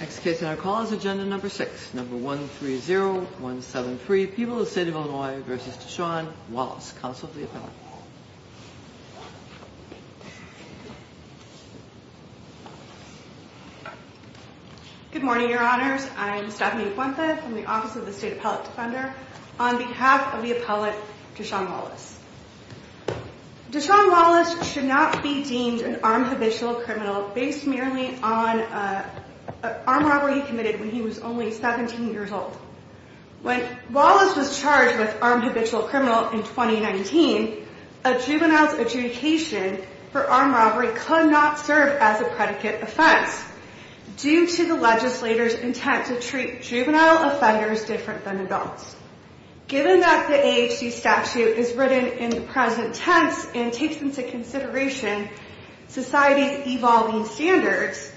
Next case on our call is agenda number six, number 130173, People of the State of Illinois v. Deshaun Wallace, counsel of the appellate. Good morning, Your Honors. I'm Stephanie Buente from the Office of the State Appellate Defender on behalf of the appellate, Deshaun Wallace. Deshaun Wallace should not be deemed an armed habitual criminal based merely on an armed robbery he committed when he was only 17 years old. When Wallace was charged with armed habitual criminal in 2019, a juvenile's adjudication for armed robbery could not serve as a predicate offense due to the legislator's intent to treat juvenile offenders different than adults. Given that the AHC statute is written in the present tense and takes into consideration society's evolving standards,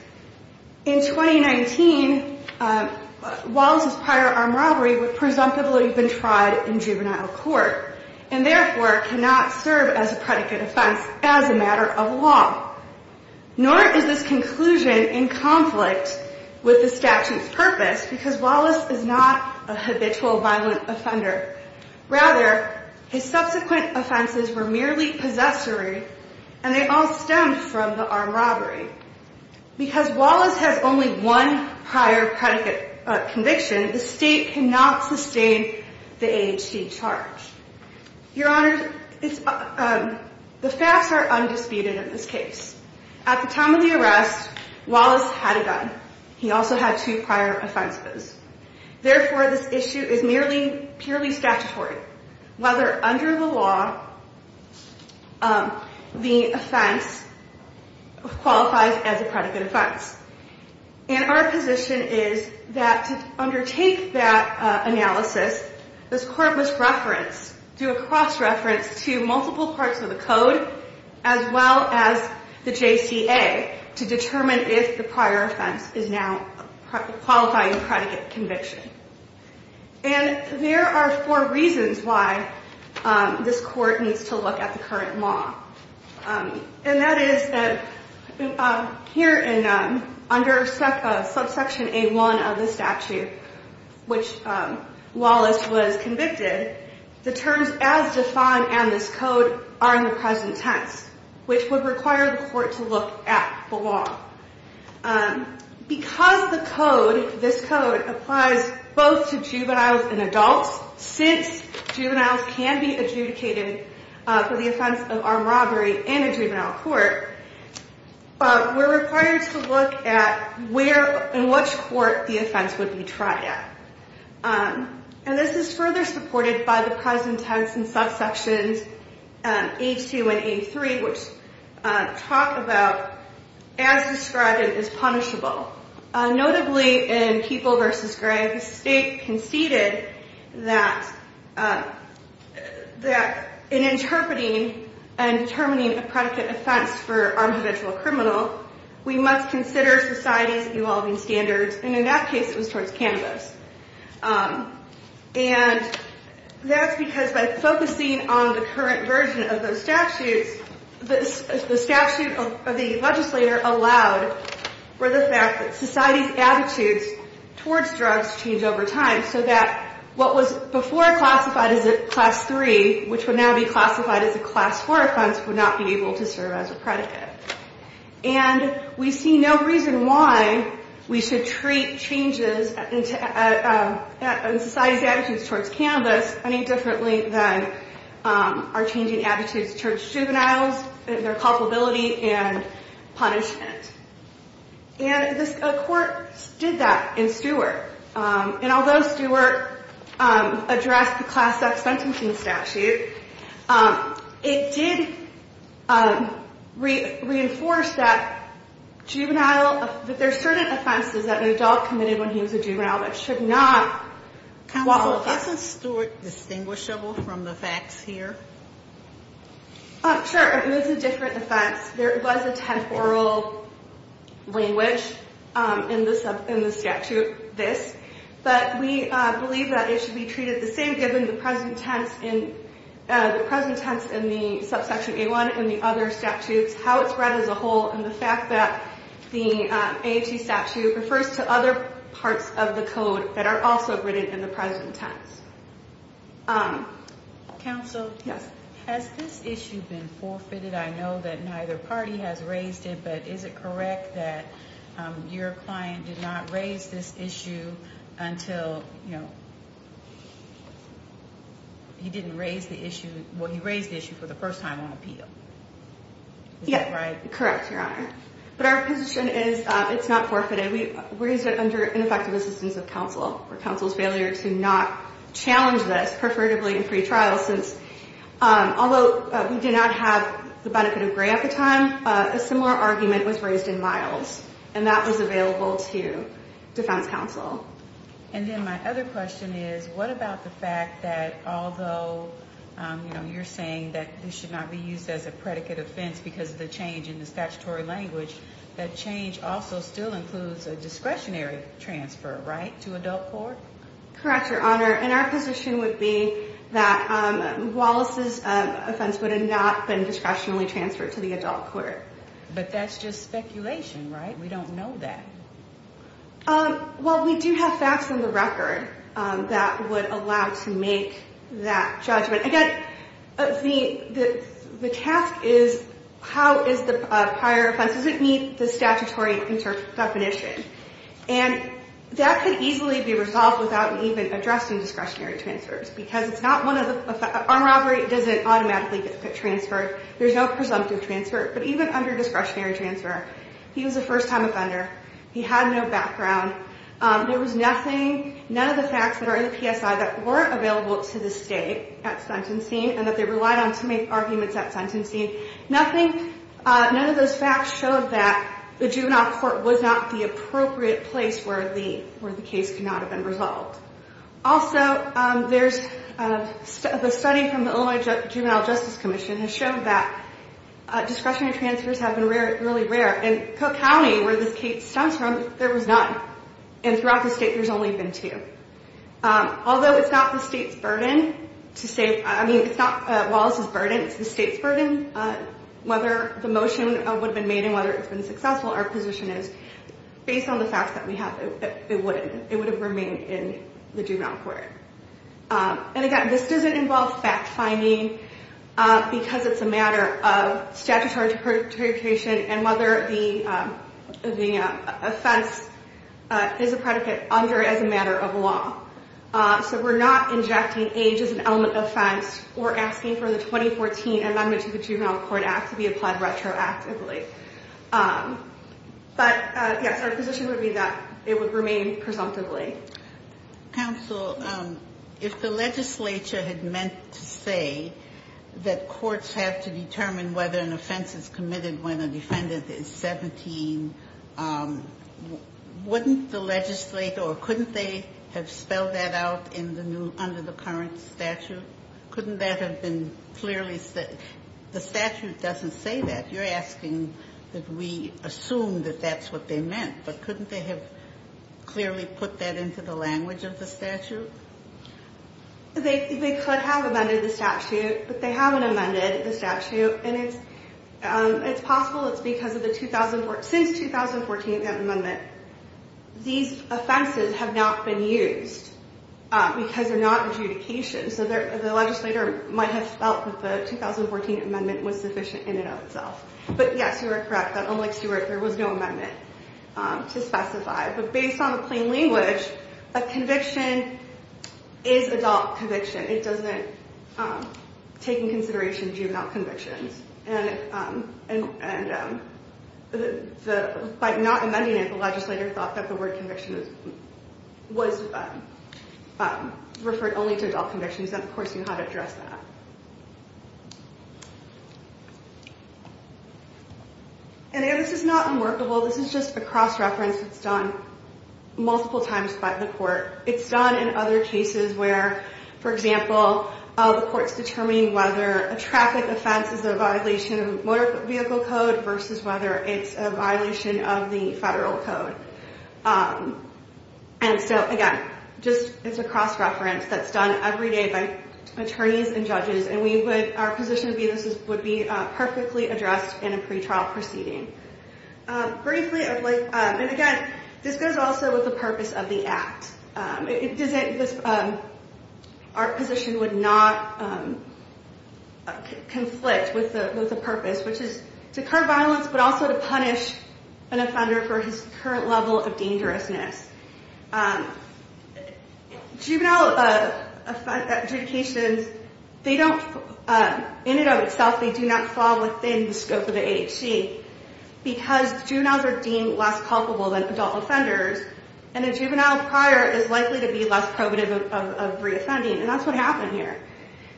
in 2019, Wallace's prior armed robbery would presumptively have been tried in juvenile court and therefore cannot serve as a predicate offense as a matter of law. Nor is this conclusion in conflict with the statute's purpose because Wallace is not a habitual violent offender. Rather, his subsequent offenses were merely possessory and they all stem from the armed robbery. Because Wallace has only one prior predicate conviction, the state cannot sustain the AHC charge. Your Honor, the facts are undisputed in this case. At the time of the arrest, Wallace had a gun. He also had two prior offenses. Therefore, this issue is merely purely statutory. Whether under the law, the offense qualifies as a predicate offense. And our position is that to undertake that analysis, this court must reference, do a cross-reference to multiple parts of the code, as well as the JCA, to determine if the prior offense is now qualifying a predicate conviction. And there are four reasons why this court needs to look at the current law. And that is that here under subsection A1 of the statute, which Wallace was convicted, the terms as defined in this code are in the present tense, which would require the court to look at the law. Because the code, this code, applies both to juveniles and adults, since juveniles can be adjudicated for the offense of armed robbery in a juvenile court, we're required to look at where and which court the offense would be tried at. And this is further supported by the present tense in subsections A2 and A3, which talk about, as described, it is punishable. Notably, in People v. Gray, the state conceded that in interpreting and determining a predicate offense for an individual criminal, we must consider society's evolving standards, and in that case, it was towards cannabis. And that's because by focusing on the current version of those statutes, the statute of the legislator allowed for the fact that society's attitudes towards drugs change over time, so that what was before classified as a Class III, which would now be classified as a Class IV offense, would not be able to serve as a predicate. And we see no reason why we should treat changes in society's attitudes towards cannabis any differently than our changing attitudes towards juveniles, their culpability, and punishment. And a court did that in Stewart, and although Stewart addressed the Class X sentencing statute, it did reinforce that there are certain offenses that an adult committed when he was a juvenile that should not qualify as a class X offense. Counsel, isn't Stewart distinguishable from the facts here? Sure, it is a different offense. There was a temporal language in the statute, this, but we believe that it should be treated the same, given the present tense in the Subsection A-1 and the other statutes, how it's read as a whole, and the fact that the AOT statute refers to other parts of the code that are also written in the present tense. Counsel, has this issue been forfeited? I know that neither party has raised it, but is it correct that your client did not raise this issue until, you know, he didn't raise the issue, well, he raised the issue for the first time on appeal? Correct, Your Honor. But our position is it's not forfeited. We raised it under ineffective assistance of counsel for counsel's failure to not challenge this, preferably in pretrial, since although we did not have the benefit of gray at the time, a similar argument was raised in Miles, and that was available to defense counsel. And then my other question is, what about the fact that although, you know, you're saying that this should not be used as a predicate offense because of the change in the statutory language, that change also still includes a discretionary transfer, right, to adult court? Correct, Your Honor, and our position would be that Wallace's offense would have not been discretionally transferred to the adult court. But that's just speculation, right? We don't know that. Well, we do have facts on the record that would allow to make that judgment. Again, the task is how is the prior offense, does it meet the statutory definition? And that could easily be resolved without even addressing discretionary transfers because it's not one of the – armed robbery doesn't automatically get transferred. There's no presumptive transfer. But even under discretionary transfer, he was a first-time offender. He had no background. There was nothing – none of the facts that are in the PSI that weren't available to the state at sentencing and that they relied on to make arguments at sentencing. Nothing – none of those facts showed that the juvenile court was not the appropriate place where the case could not have been resolved. Also, there's – the study from the Illinois Juvenile Justice Commission has shown that discretionary transfers have been really rare. In Cook County, where this case stems from, there was none. And throughout the state, there's only been two. Although it's not the state's burden to say – I mean, it's not Wallace's burden. It's the state's burden. Whether the motion would have been made and whether it's been successful, our position is, based on the facts that we have, it wouldn't. It would have remained in the juvenile court. And, again, this doesn't involve fact-finding because it's a matter of statutory interpretation and whether the offense is a predicate under it as a matter of law. So we're not injecting age as an element of offense or asking for the 2014 Amendment to the Juvenile Court Act to be applied retroactively. But, yes, our position would be that it would remain presumptively. Counsel, if the legislature had meant to say that courts have to determine whether an offense is committed when a defendant is 17, wouldn't the legislature – or couldn't they have spelled that out in the new – under the current statute? Couldn't that have been clearly – the statute doesn't say that. You're asking that we assume that that's what they meant, but couldn't they have clearly put that into the language of the statute? They could have amended the statute, but they haven't amended the statute. And it's possible it's because of the – since the 2014 Amendment, these offenses have not been used because they're not adjudication. So the legislator might have felt that the 2014 Amendment was sufficient in and of itself. But, yes, you are correct that, unlike Stewart, there was no amendment to specify. But based on the plain language, a conviction is adult conviction. It doesn't take into consideration juvenile convictions. And by not amending it, the legislator thought that the word conviction was referred only to adult convictions. And, of course, you had to address that. And this is not unworkable. This is just a cross-reference that's done multiple times by the court. It's done in other cases where, for example, the court's determining whether a traffic offense is a violation of motor vehicle code versus whether it's a violation of the federal code. And so, again, just – it's a cross-reference that's done every day by attorneys and judges. And we would – our position would be this would be perfectly addressed in a pretrial proceeding. Briefly, I'd like – and, again, this goes also with the purpose of the act. Our position would not conflict with the purpose, which is to curb violence but also to punish an offender for his current level of dangerousness. Juvenile adjudications, they don't – in and of itself, they do not fall within the scope of the AHC because juveniles are deemed less culpable than adult offenders. And a juvenile prior is likely to be less probative of reoffending. And that's what happened here.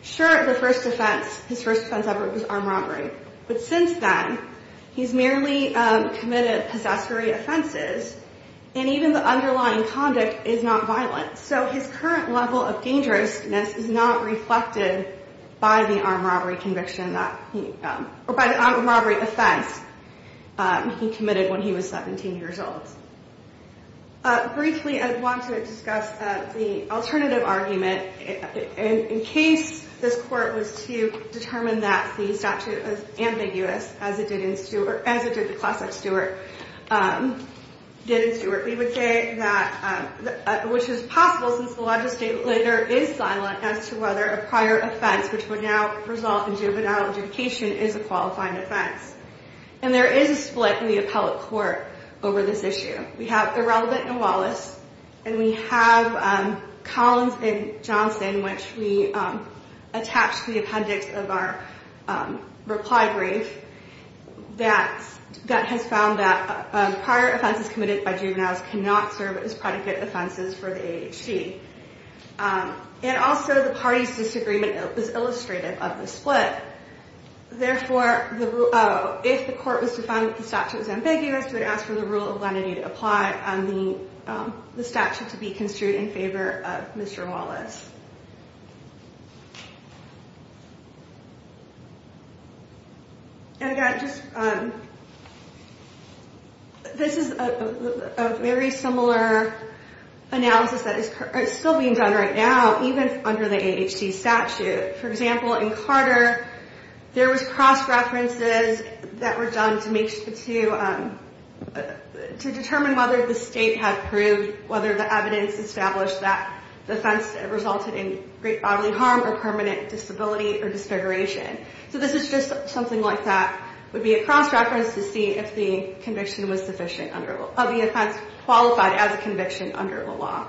Sure, the first offense – his first offense ever was armed robbery. But since then, he's merely committed possessory offenses, and even the underlying conduct is not violent. So his current level of dangerousness is not reflected by the armed robbery conviction that – or by the armed robbery offense he committed when he was 17 years old. Briefly, I want to discuss the alternative argument. In case this court was to determine that the statute was ambiguous, as it did in – or as it did in the class of Stewart – did in Stewart, we would say that – which is possible since the legislature is silent as to whether a prior offense, which would now result in juvenile adjudication, is a qualifying offense. And there is a split in the appellate court over this issue. We have Irrelevant and Wallace. And we have Collins and Johnson, which we attached to the appendix of our reply brief, that has found that prior offenses committed by juveniles cannot serve as predicate offenses for the AHC. And also, the parties' disagreement is illustrative of the split. Therefore, if the court was to find that the statute was ambiguous, we would ask for the rule of lenity to apply on the statute to be construed in favor of Mr. Wallace. And again, just – this is a very similar analysis that is still being done right now, even under the AHC statute. For example, in Carter, there was cross-references that were done to make – to determine whether the state had proved whether the evidence established that the offense resulted in great bodily harm or permanent disability or disfiguration. So this is just something like that would be a cross-reference to see if the conviction was sufficient under – of the offense qualified as a conviction under the law.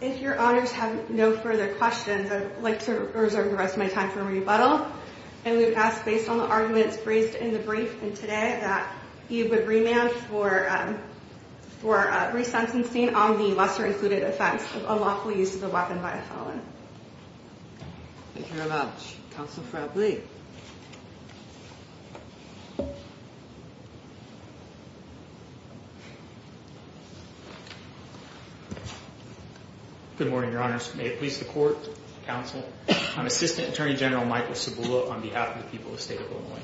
If your honors have no further questions, I would like to reserve the rest of my time for a rebuttal. And we would ask, based on the arguments raised in the brief and today, that you would remand for – for resentencing on the lesser-included offense of unlawful use of a weapon by a felon. Thank you very much. Counsel Frably. Good morning, your honors. May it please the court, counsel. I'm Assistant Attorney General Michael Cibula on behalf of the people of the state of Illinois.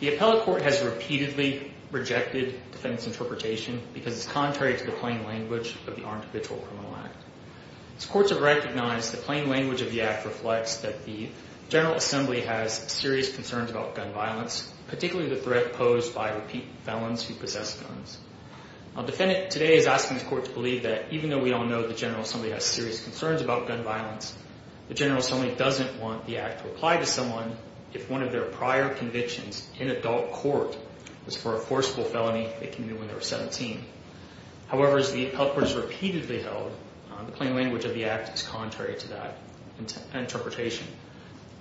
The appellate court has repeatedly rejected defendant's interpretation because it's contrary to the plain language of the Armed Availability Criminal Act. As courts have recognized, the plain language of the act reflects that the General Assembly has serious concerns about gun violence, particularly the threat posed by repeat felons who possess guns. A defendant today is asking his court to believe that even though we all know the General Assembly has serious concerns about gun violence, the General Assembly doesn't want the act to apply to someone if one of their prior convictions in adult court was for a forcible felony that came in when they were 17. However, as the appellate court has repeatedly held, the plain language of the act is contrary to that interpretation.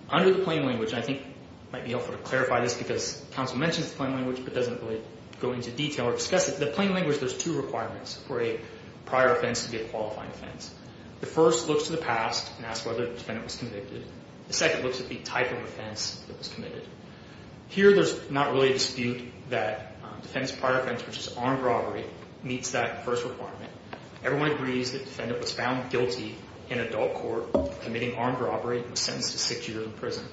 Under the plain language, and I think it might be helpful to clarify this because counsel mentions the plain language but doesn't really go into detail or discuss it, the plain language, there's two requirements for a prior offense to be a qualifying offense. The first looks to the past and asks whether the defendant was convicted. The second looks at the type of offense that was committed. Here, there's not really a dispute that defense prior offense, which is armed robbery, meets that first requirement. Everyone agrees that the defendant was found guilty in adult court committing armed robbery and sentenced to six years in prison.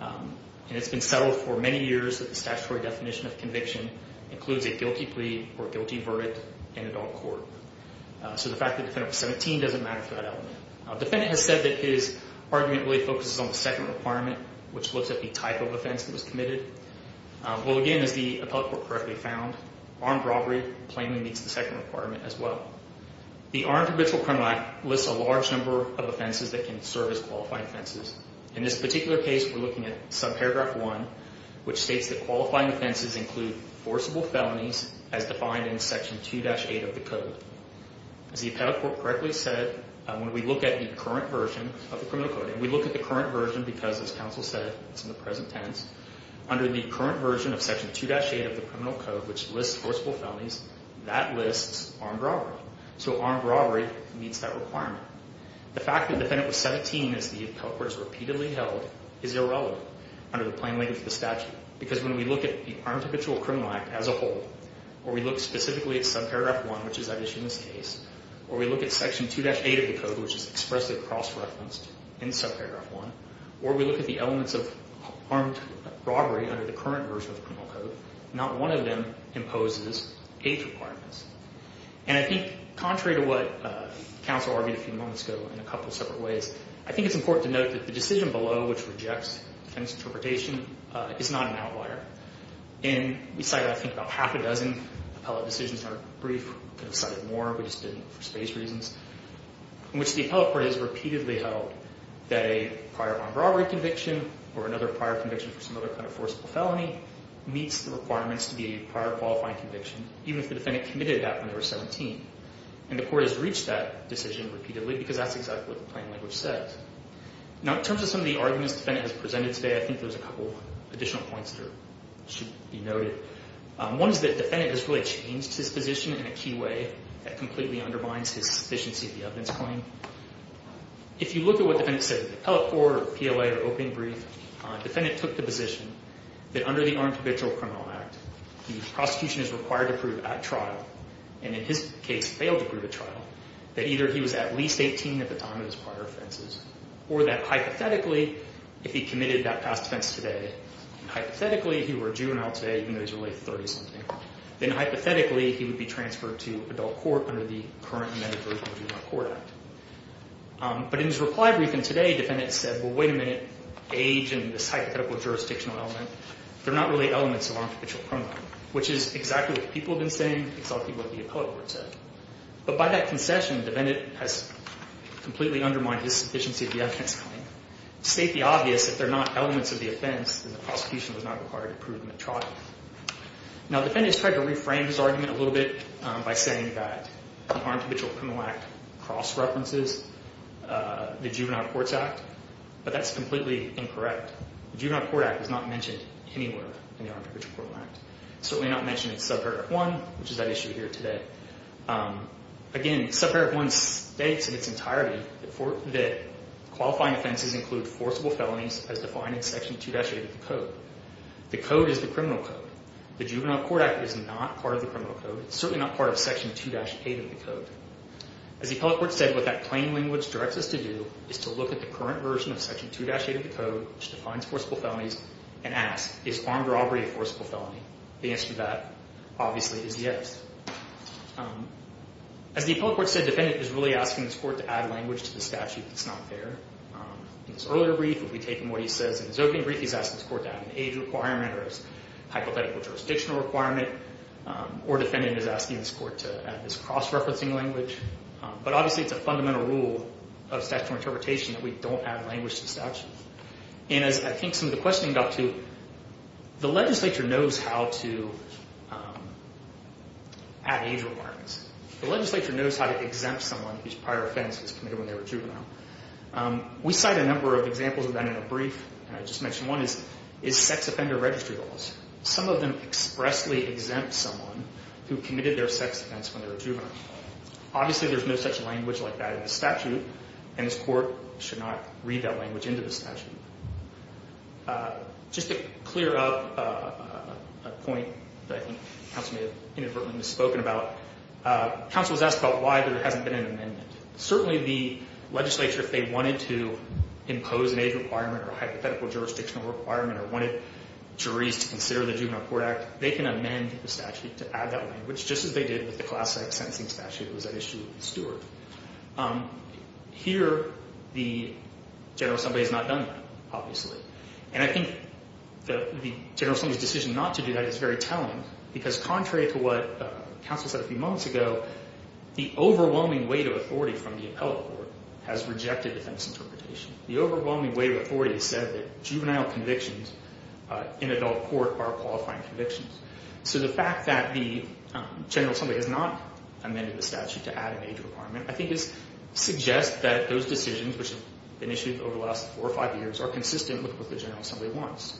And it's been settled for many years that the statutory definition of conviction includes a guilty plea or guilty verdict in adult court. So the fact that the defendant was 17 doesn't matter for that element. The defendant has said that his argument really focuses on the second requirement, which looks at the type of offense that was committed. Well, again, as the appellate court correctly found, armed robbery plainly meets the second requirement as well. The Armed Provisional Criminal Act lists a large number of offenses that can serve as qualifying offenses. In this particular case, we're looking at subparagraph 1, which states that qualifying offenses include forcible felonies as defined in section 2-8 of the code. As the appellate court correctly said, when we look at the current version of the criminal code, we look at the current version because, as counsel said, it's in the present tense. Under the current version of section 2-8 of the criminal code, which lists forcible felonies, that lists armed robbery. So armed robbery meets that requirement. The fact that the defendant was 17, as the appellate court has repeatedly held, is irrelevant under the plain language of the statute. Because when we look at the Armed Provisional Criminal Act as a whole, or we look specifically at subparagraph 1, which is at issue in this case, or we look at section 2-8 of the code, which is expressly cross-referenced in subparagraph 1, or we look at the elements of armed robbery under the current version of the criminal code, not one of them imposes age requirements. And I think, contrary to what counsel argued a few moments ago in a couple separate ways, I think it's important to note that the decision below, which rejects the defendant's interpretation, is not an outlier. And we cited, I think, about half a dozen appellate decisions in our brief. We could have cited more. We just didn't for space reasons. In which the appellate court has repeatedly held that a prior armed robbery conviction or another prior conviction for some other kind of forcible felony meets the requirements to be a prior qualifying conviction, even if the defendant committed that when they were 17. And the court has reached that decision repeatedly because that's exactly what the plain language says. Now, in terms of some of the arguments the defendant has presented today, I think there's a couple additional points that should be noted. One is that the defendant has really changed his position in a key way that completely undermines his sufficiency of the evidence claim. If you look at what the defendant said in the appellate court or PLA or opening brief, the defendant took the position that under the Armed Habitual Criminal Act, the prosecution is required to prove at trial, and in his case, failed to prove at trial, that either he was at least 18 at the time of his prior offenses, or that hypothetically, if he committed that past offense today, hypothetically, he were a juvenile today, even though he's really 30-something, then hypothetically, he would be transferred to adult court under the current amended birth and juvenile court act. But in his reply briefing today, the defendant said, well, wait a minute, age and this hypothetical jurisdictional element, they're not really elements of Armed Habitual Criminal Act, which is exactly what the people have been saying, exactly what the appellate court said. But by that concession, the defendant has completely undermined his sufficiency of the evidence claim. To state the obvious, if they're not elements of the offense, then the prosecution was not required to prove them at trial. Now, the defendant has tried to reframe his argument a little bit by saying that the Armed Habitual Criminal Act cross-references the Juvenile Courts Act, but that's completely incorrect. The Juvenile Court Act is not mentioned anywhere in the Armed Habitual Criminal Act. It's certainly not mentioned in subpart F1, which is that issue here today. Again, subpart F1 states in its entirety that qualifying offenses include forcible felonies as defined in section 2-8 of the code. The code is the criminal code. The Juvenile Court Act is not part of the criminal code. It's certainly not part of section 2-8 of the code. As the appellate court said, what that plain language directs us to do is to look at the current version of section 2-8 of the code, which defines forcible felonies, and ask, is armed robbery a forcible felony? The answer to that, obviously, is yes. As the appellate court said, defendant is really asking this court to add language to the statute that's not there. In this earlier brief, if we take from what he says in his opening brief, he's asking this court to add an age requirement or a hypothetical jurisdictional requirement, or defendant is asking this court to add this cross-referencing language. But obviously, it's a fundamental rule of statutory interpretation that we don't add language to the statute. And as I think some of the questioning got to, the legislature knows how to add age requirements. The legislature knows how to exempt someone whose prior offense was committed when they were juvenile. We cite a number of examples of that in a brief, and I just mentioned one is sex offender registry laws. Some of them expressly exempt someone who committed their sex offense when they were juvenile. Obviously, there's no such language like that in the statute, and this court should not read that language into the statute. Just to clear up a point that I think counsel may have inadvertently misspoken about, counsel was asked about why there hasn't been an amendment. Certainly, the legislature, if they wanted to impose an age requirement or a hypothetical jurisdictional requirement or wanted juries to consider the Juvenile Court Act, they can amend the statute to add that language, just as they did with the classic sentencing statute that was at issue with Stewart. Here, the general assembly has not done that, obviously. And I think the general assembly's decision not to do that is very telling, because contrary to what counsel said a few moments ago, the overwhelming weight of authority from the appellate court has rejected defense interpretation. The overwhelming weight of authority said that juvenile convictions in adult court are qualifying convictions. So the fact that the general assembly has not amended the statute to add an age requirement, I think suggests that those decisions, which have been issued over the last four or five years, are consistent with what the general assembly wants.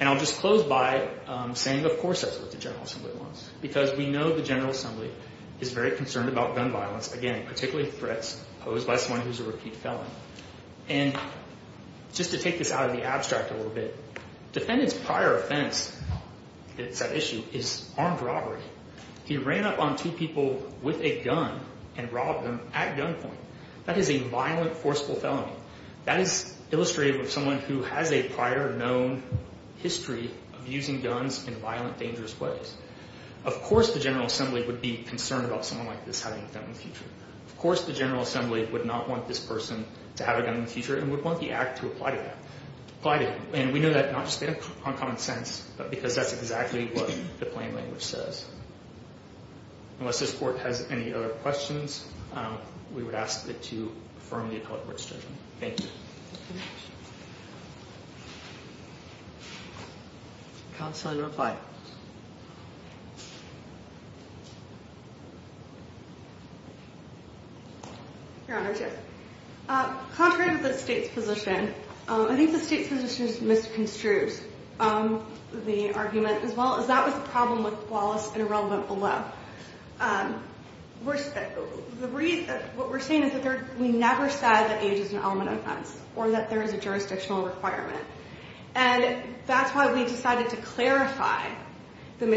And I'll just close by saying, of course, that's what the general assembly wants, because we know the general assembly is very concerned about gun violence, again, particularly threats posed by someone who's a repeat felon. And just to take this out of the abstract a little bit, defendants' prior offense at that issue is armed robbery. He ran up on two people with a gun and robbed them at gunpoint. That is a violent, forceful felony. That is illustrated with someone who has a prior known history of using guns in violent, dangerous ways. Of course the general assembly would be concerned about someone like this having a gun in the future. Of course the general assembly would not want this person to have a gun in the future and would want the act to apply to him. And we know that not just on common sense, but because that's exactly what the plain language says. Unless this court has any other questions, we would ask that you affirm the appellate word statement. Thank you. Counsel, you're on file. Your Honor, contrary to the state's position, I think the state's position misconstrues the argument as well, as that was the problem with Wallace and irrelevant below. What we're saying is that we never said that age is an element of offense or that there is a jurisdictional requirement. And that's why we decided to clarify any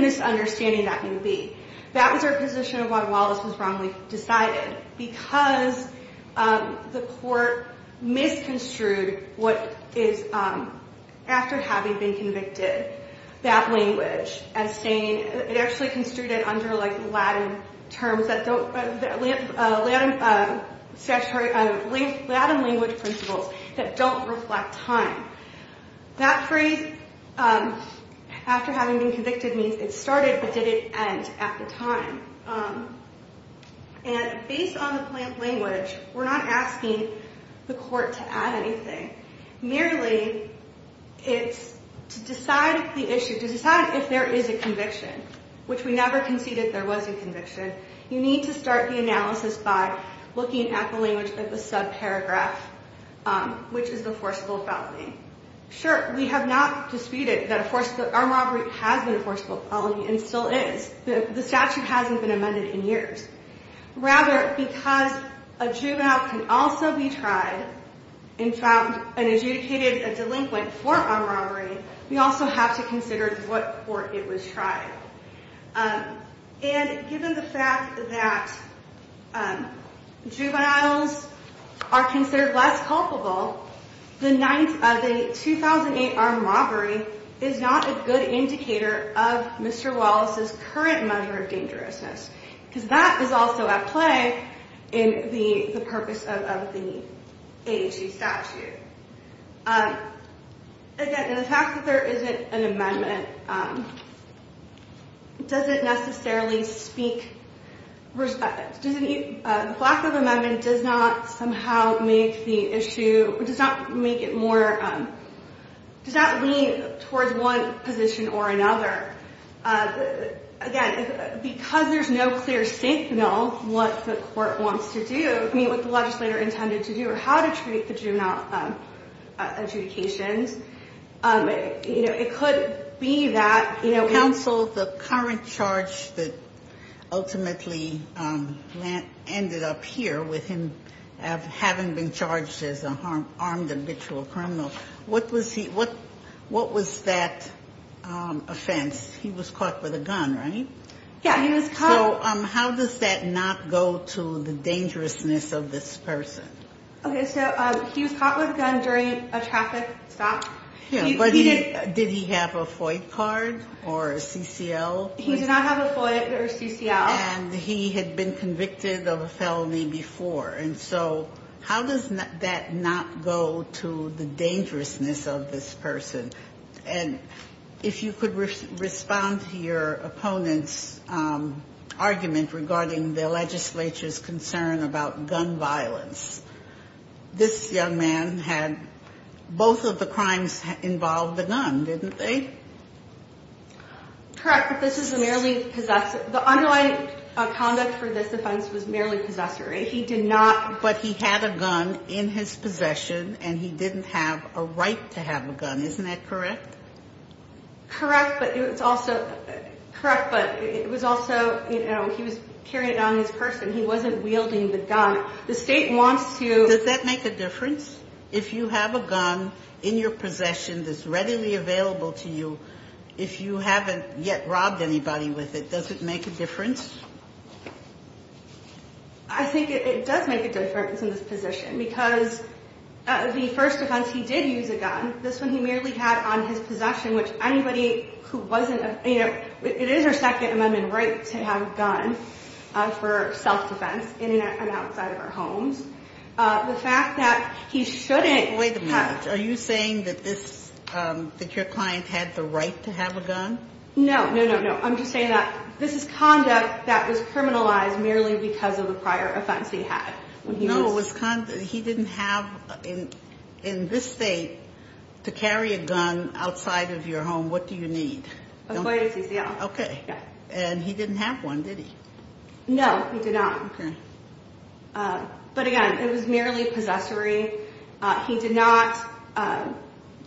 misunderstanding that may be. That was our position of why Wallace was wrongly decided. Because the court misconstrued what is, after having been convicted, that language. It actually construed it under, like, Latin terms that don't, Latin language principles that don't reflect time. That phrase, after having been convicted, means it started but didn't end at the time. And based on the plain language, we're not asking the court to add anything. Merely, it's to decide the issue, to decide if there is a conviction, which we never conceded there was a conviction. You need to start the analysis by looking at the language of the subparagraph, which is the forcible felony. Sure, we have not disputed that an armed robbery has been a forcible felony and still is. The statute hasn't been amended in years. Rather, because a juvenile can also be tried and found and adjudicated a delinquent for armed robbery, we also have to consider what court it was tried. And given the fact that juveniles are considered less culpable, the ninth of a 2008 armed robbery is not a good indicator of Mr. Wallace's current measure of dangerousness. Because that is also at play in the purpose of the AHG statute. Again, the fact that there isn't an amendment doesn't necessarily speak— the lack of an amendment does not somehow make the issue— does not make it more—does not lean towards one position or another. Again, because there's no clear signal what the court wants to do, I mean, what the legislator intended to do or how to treat the juvenile adjudications, it could be that— Counsel, the current charge that ultimately ended up here with him having been charged as an armed habitual criminal, what was that offense? He was caught with a gun, right? Yeah, he was caught— So how does that not go to the dangerousness of this person? Okay, so he was caught with a gun during a traffic stop. Yeah, but did he have a FOIA card or a CCL? He did not have a FOIA or a CCL. And he had been convicted of a felony before. And so how does that not go to the dangerousness of this person? And if you could respond to your opponent's argument regarding the legislature's concern about gun violence. This young man had—both of the crimes involved the gun, didn't they? Correct, but this is a merely possessive—the underlying conduct for this offense was merely possessory. He did not— But he had a gun in his possession, and he didn't have a right to have a gun. Isn't that correct? Correct, but it was also—he was carrying it on his person. He wasn't wielding the gun. The state wants to— Does that make a difference? If you have a gun in your possession that's readily available to you, if you haven't yet robbed anybody with it, does it make a difference? I think it does make a difference in this position because the first offense he did use a gun. This one he merely had on his possession, which anybody who wasn't— you know, it is our Second Amendment right to have a gun for self-defense in and outside of our homes. The fact that he shouldn't have— Wait a minute. Are you saying that this—that your client had the right to have a gun? No, no, no, no. I'm just saying that this is conduct that was criminalized merely because of the prior offense he had. No, it was—he didn't have, in this state, to carry a gun outside of your home. What do you need? Avoid a TCL. Okay. And he didn't have one, did he? No, he did not. Okay. But again, it was merely possessory. He did not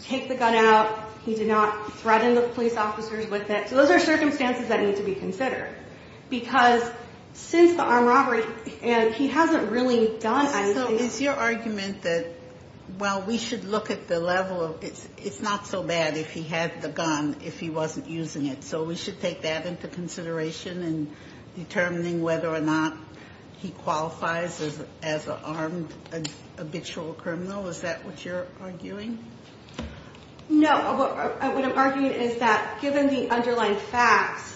take the gun out. He did not threaten the police officers with it. So those are circumstances that need to be considered. Because since the armed robbery—and he hasn't really done anything— So is your argument that, well, we should look at the level of— it's not so bad if he had the gun if he wasn't using it. So we should take that into consideration in determining whether or not he qualifies as an armed habitual criminal? Is that what you're arguing? No. What I'm arguing is that given the underlying facts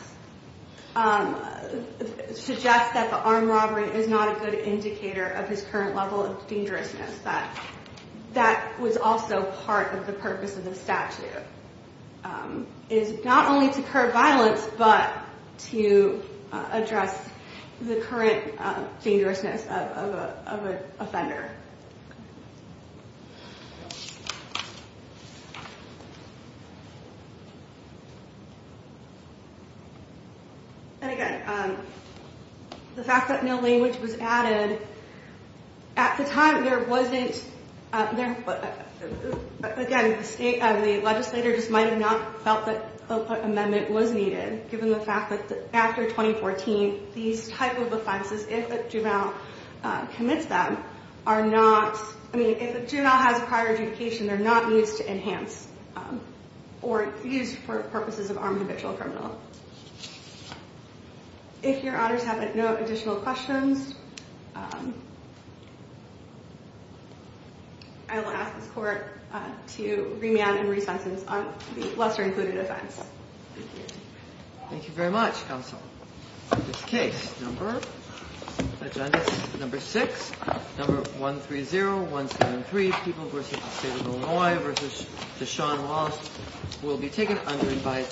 suggests that the armed robbery is not a good indicator of his current level of dangerousness, that that was also part of the purpose of the statute, is not only to curb violence but to address the current dangerousness of an offender. And again, the fact that no language was added— at the time, there wasn't— again, the legislator just might have not felt that an amendment was needed, given the fact that after 2014, these type of offenses, if a juvenile commits them, are not— or used for purposes of armed habitual criminal. If your honors have no additional questions, I will ask this Court to remand and resentence on the lesser-included offense. Thank you. Thank you very much, counsel. This case, number— Agenda number six, number 130173, People v. the State of Illinois v. Deshaun Wallace, will be taken under revised—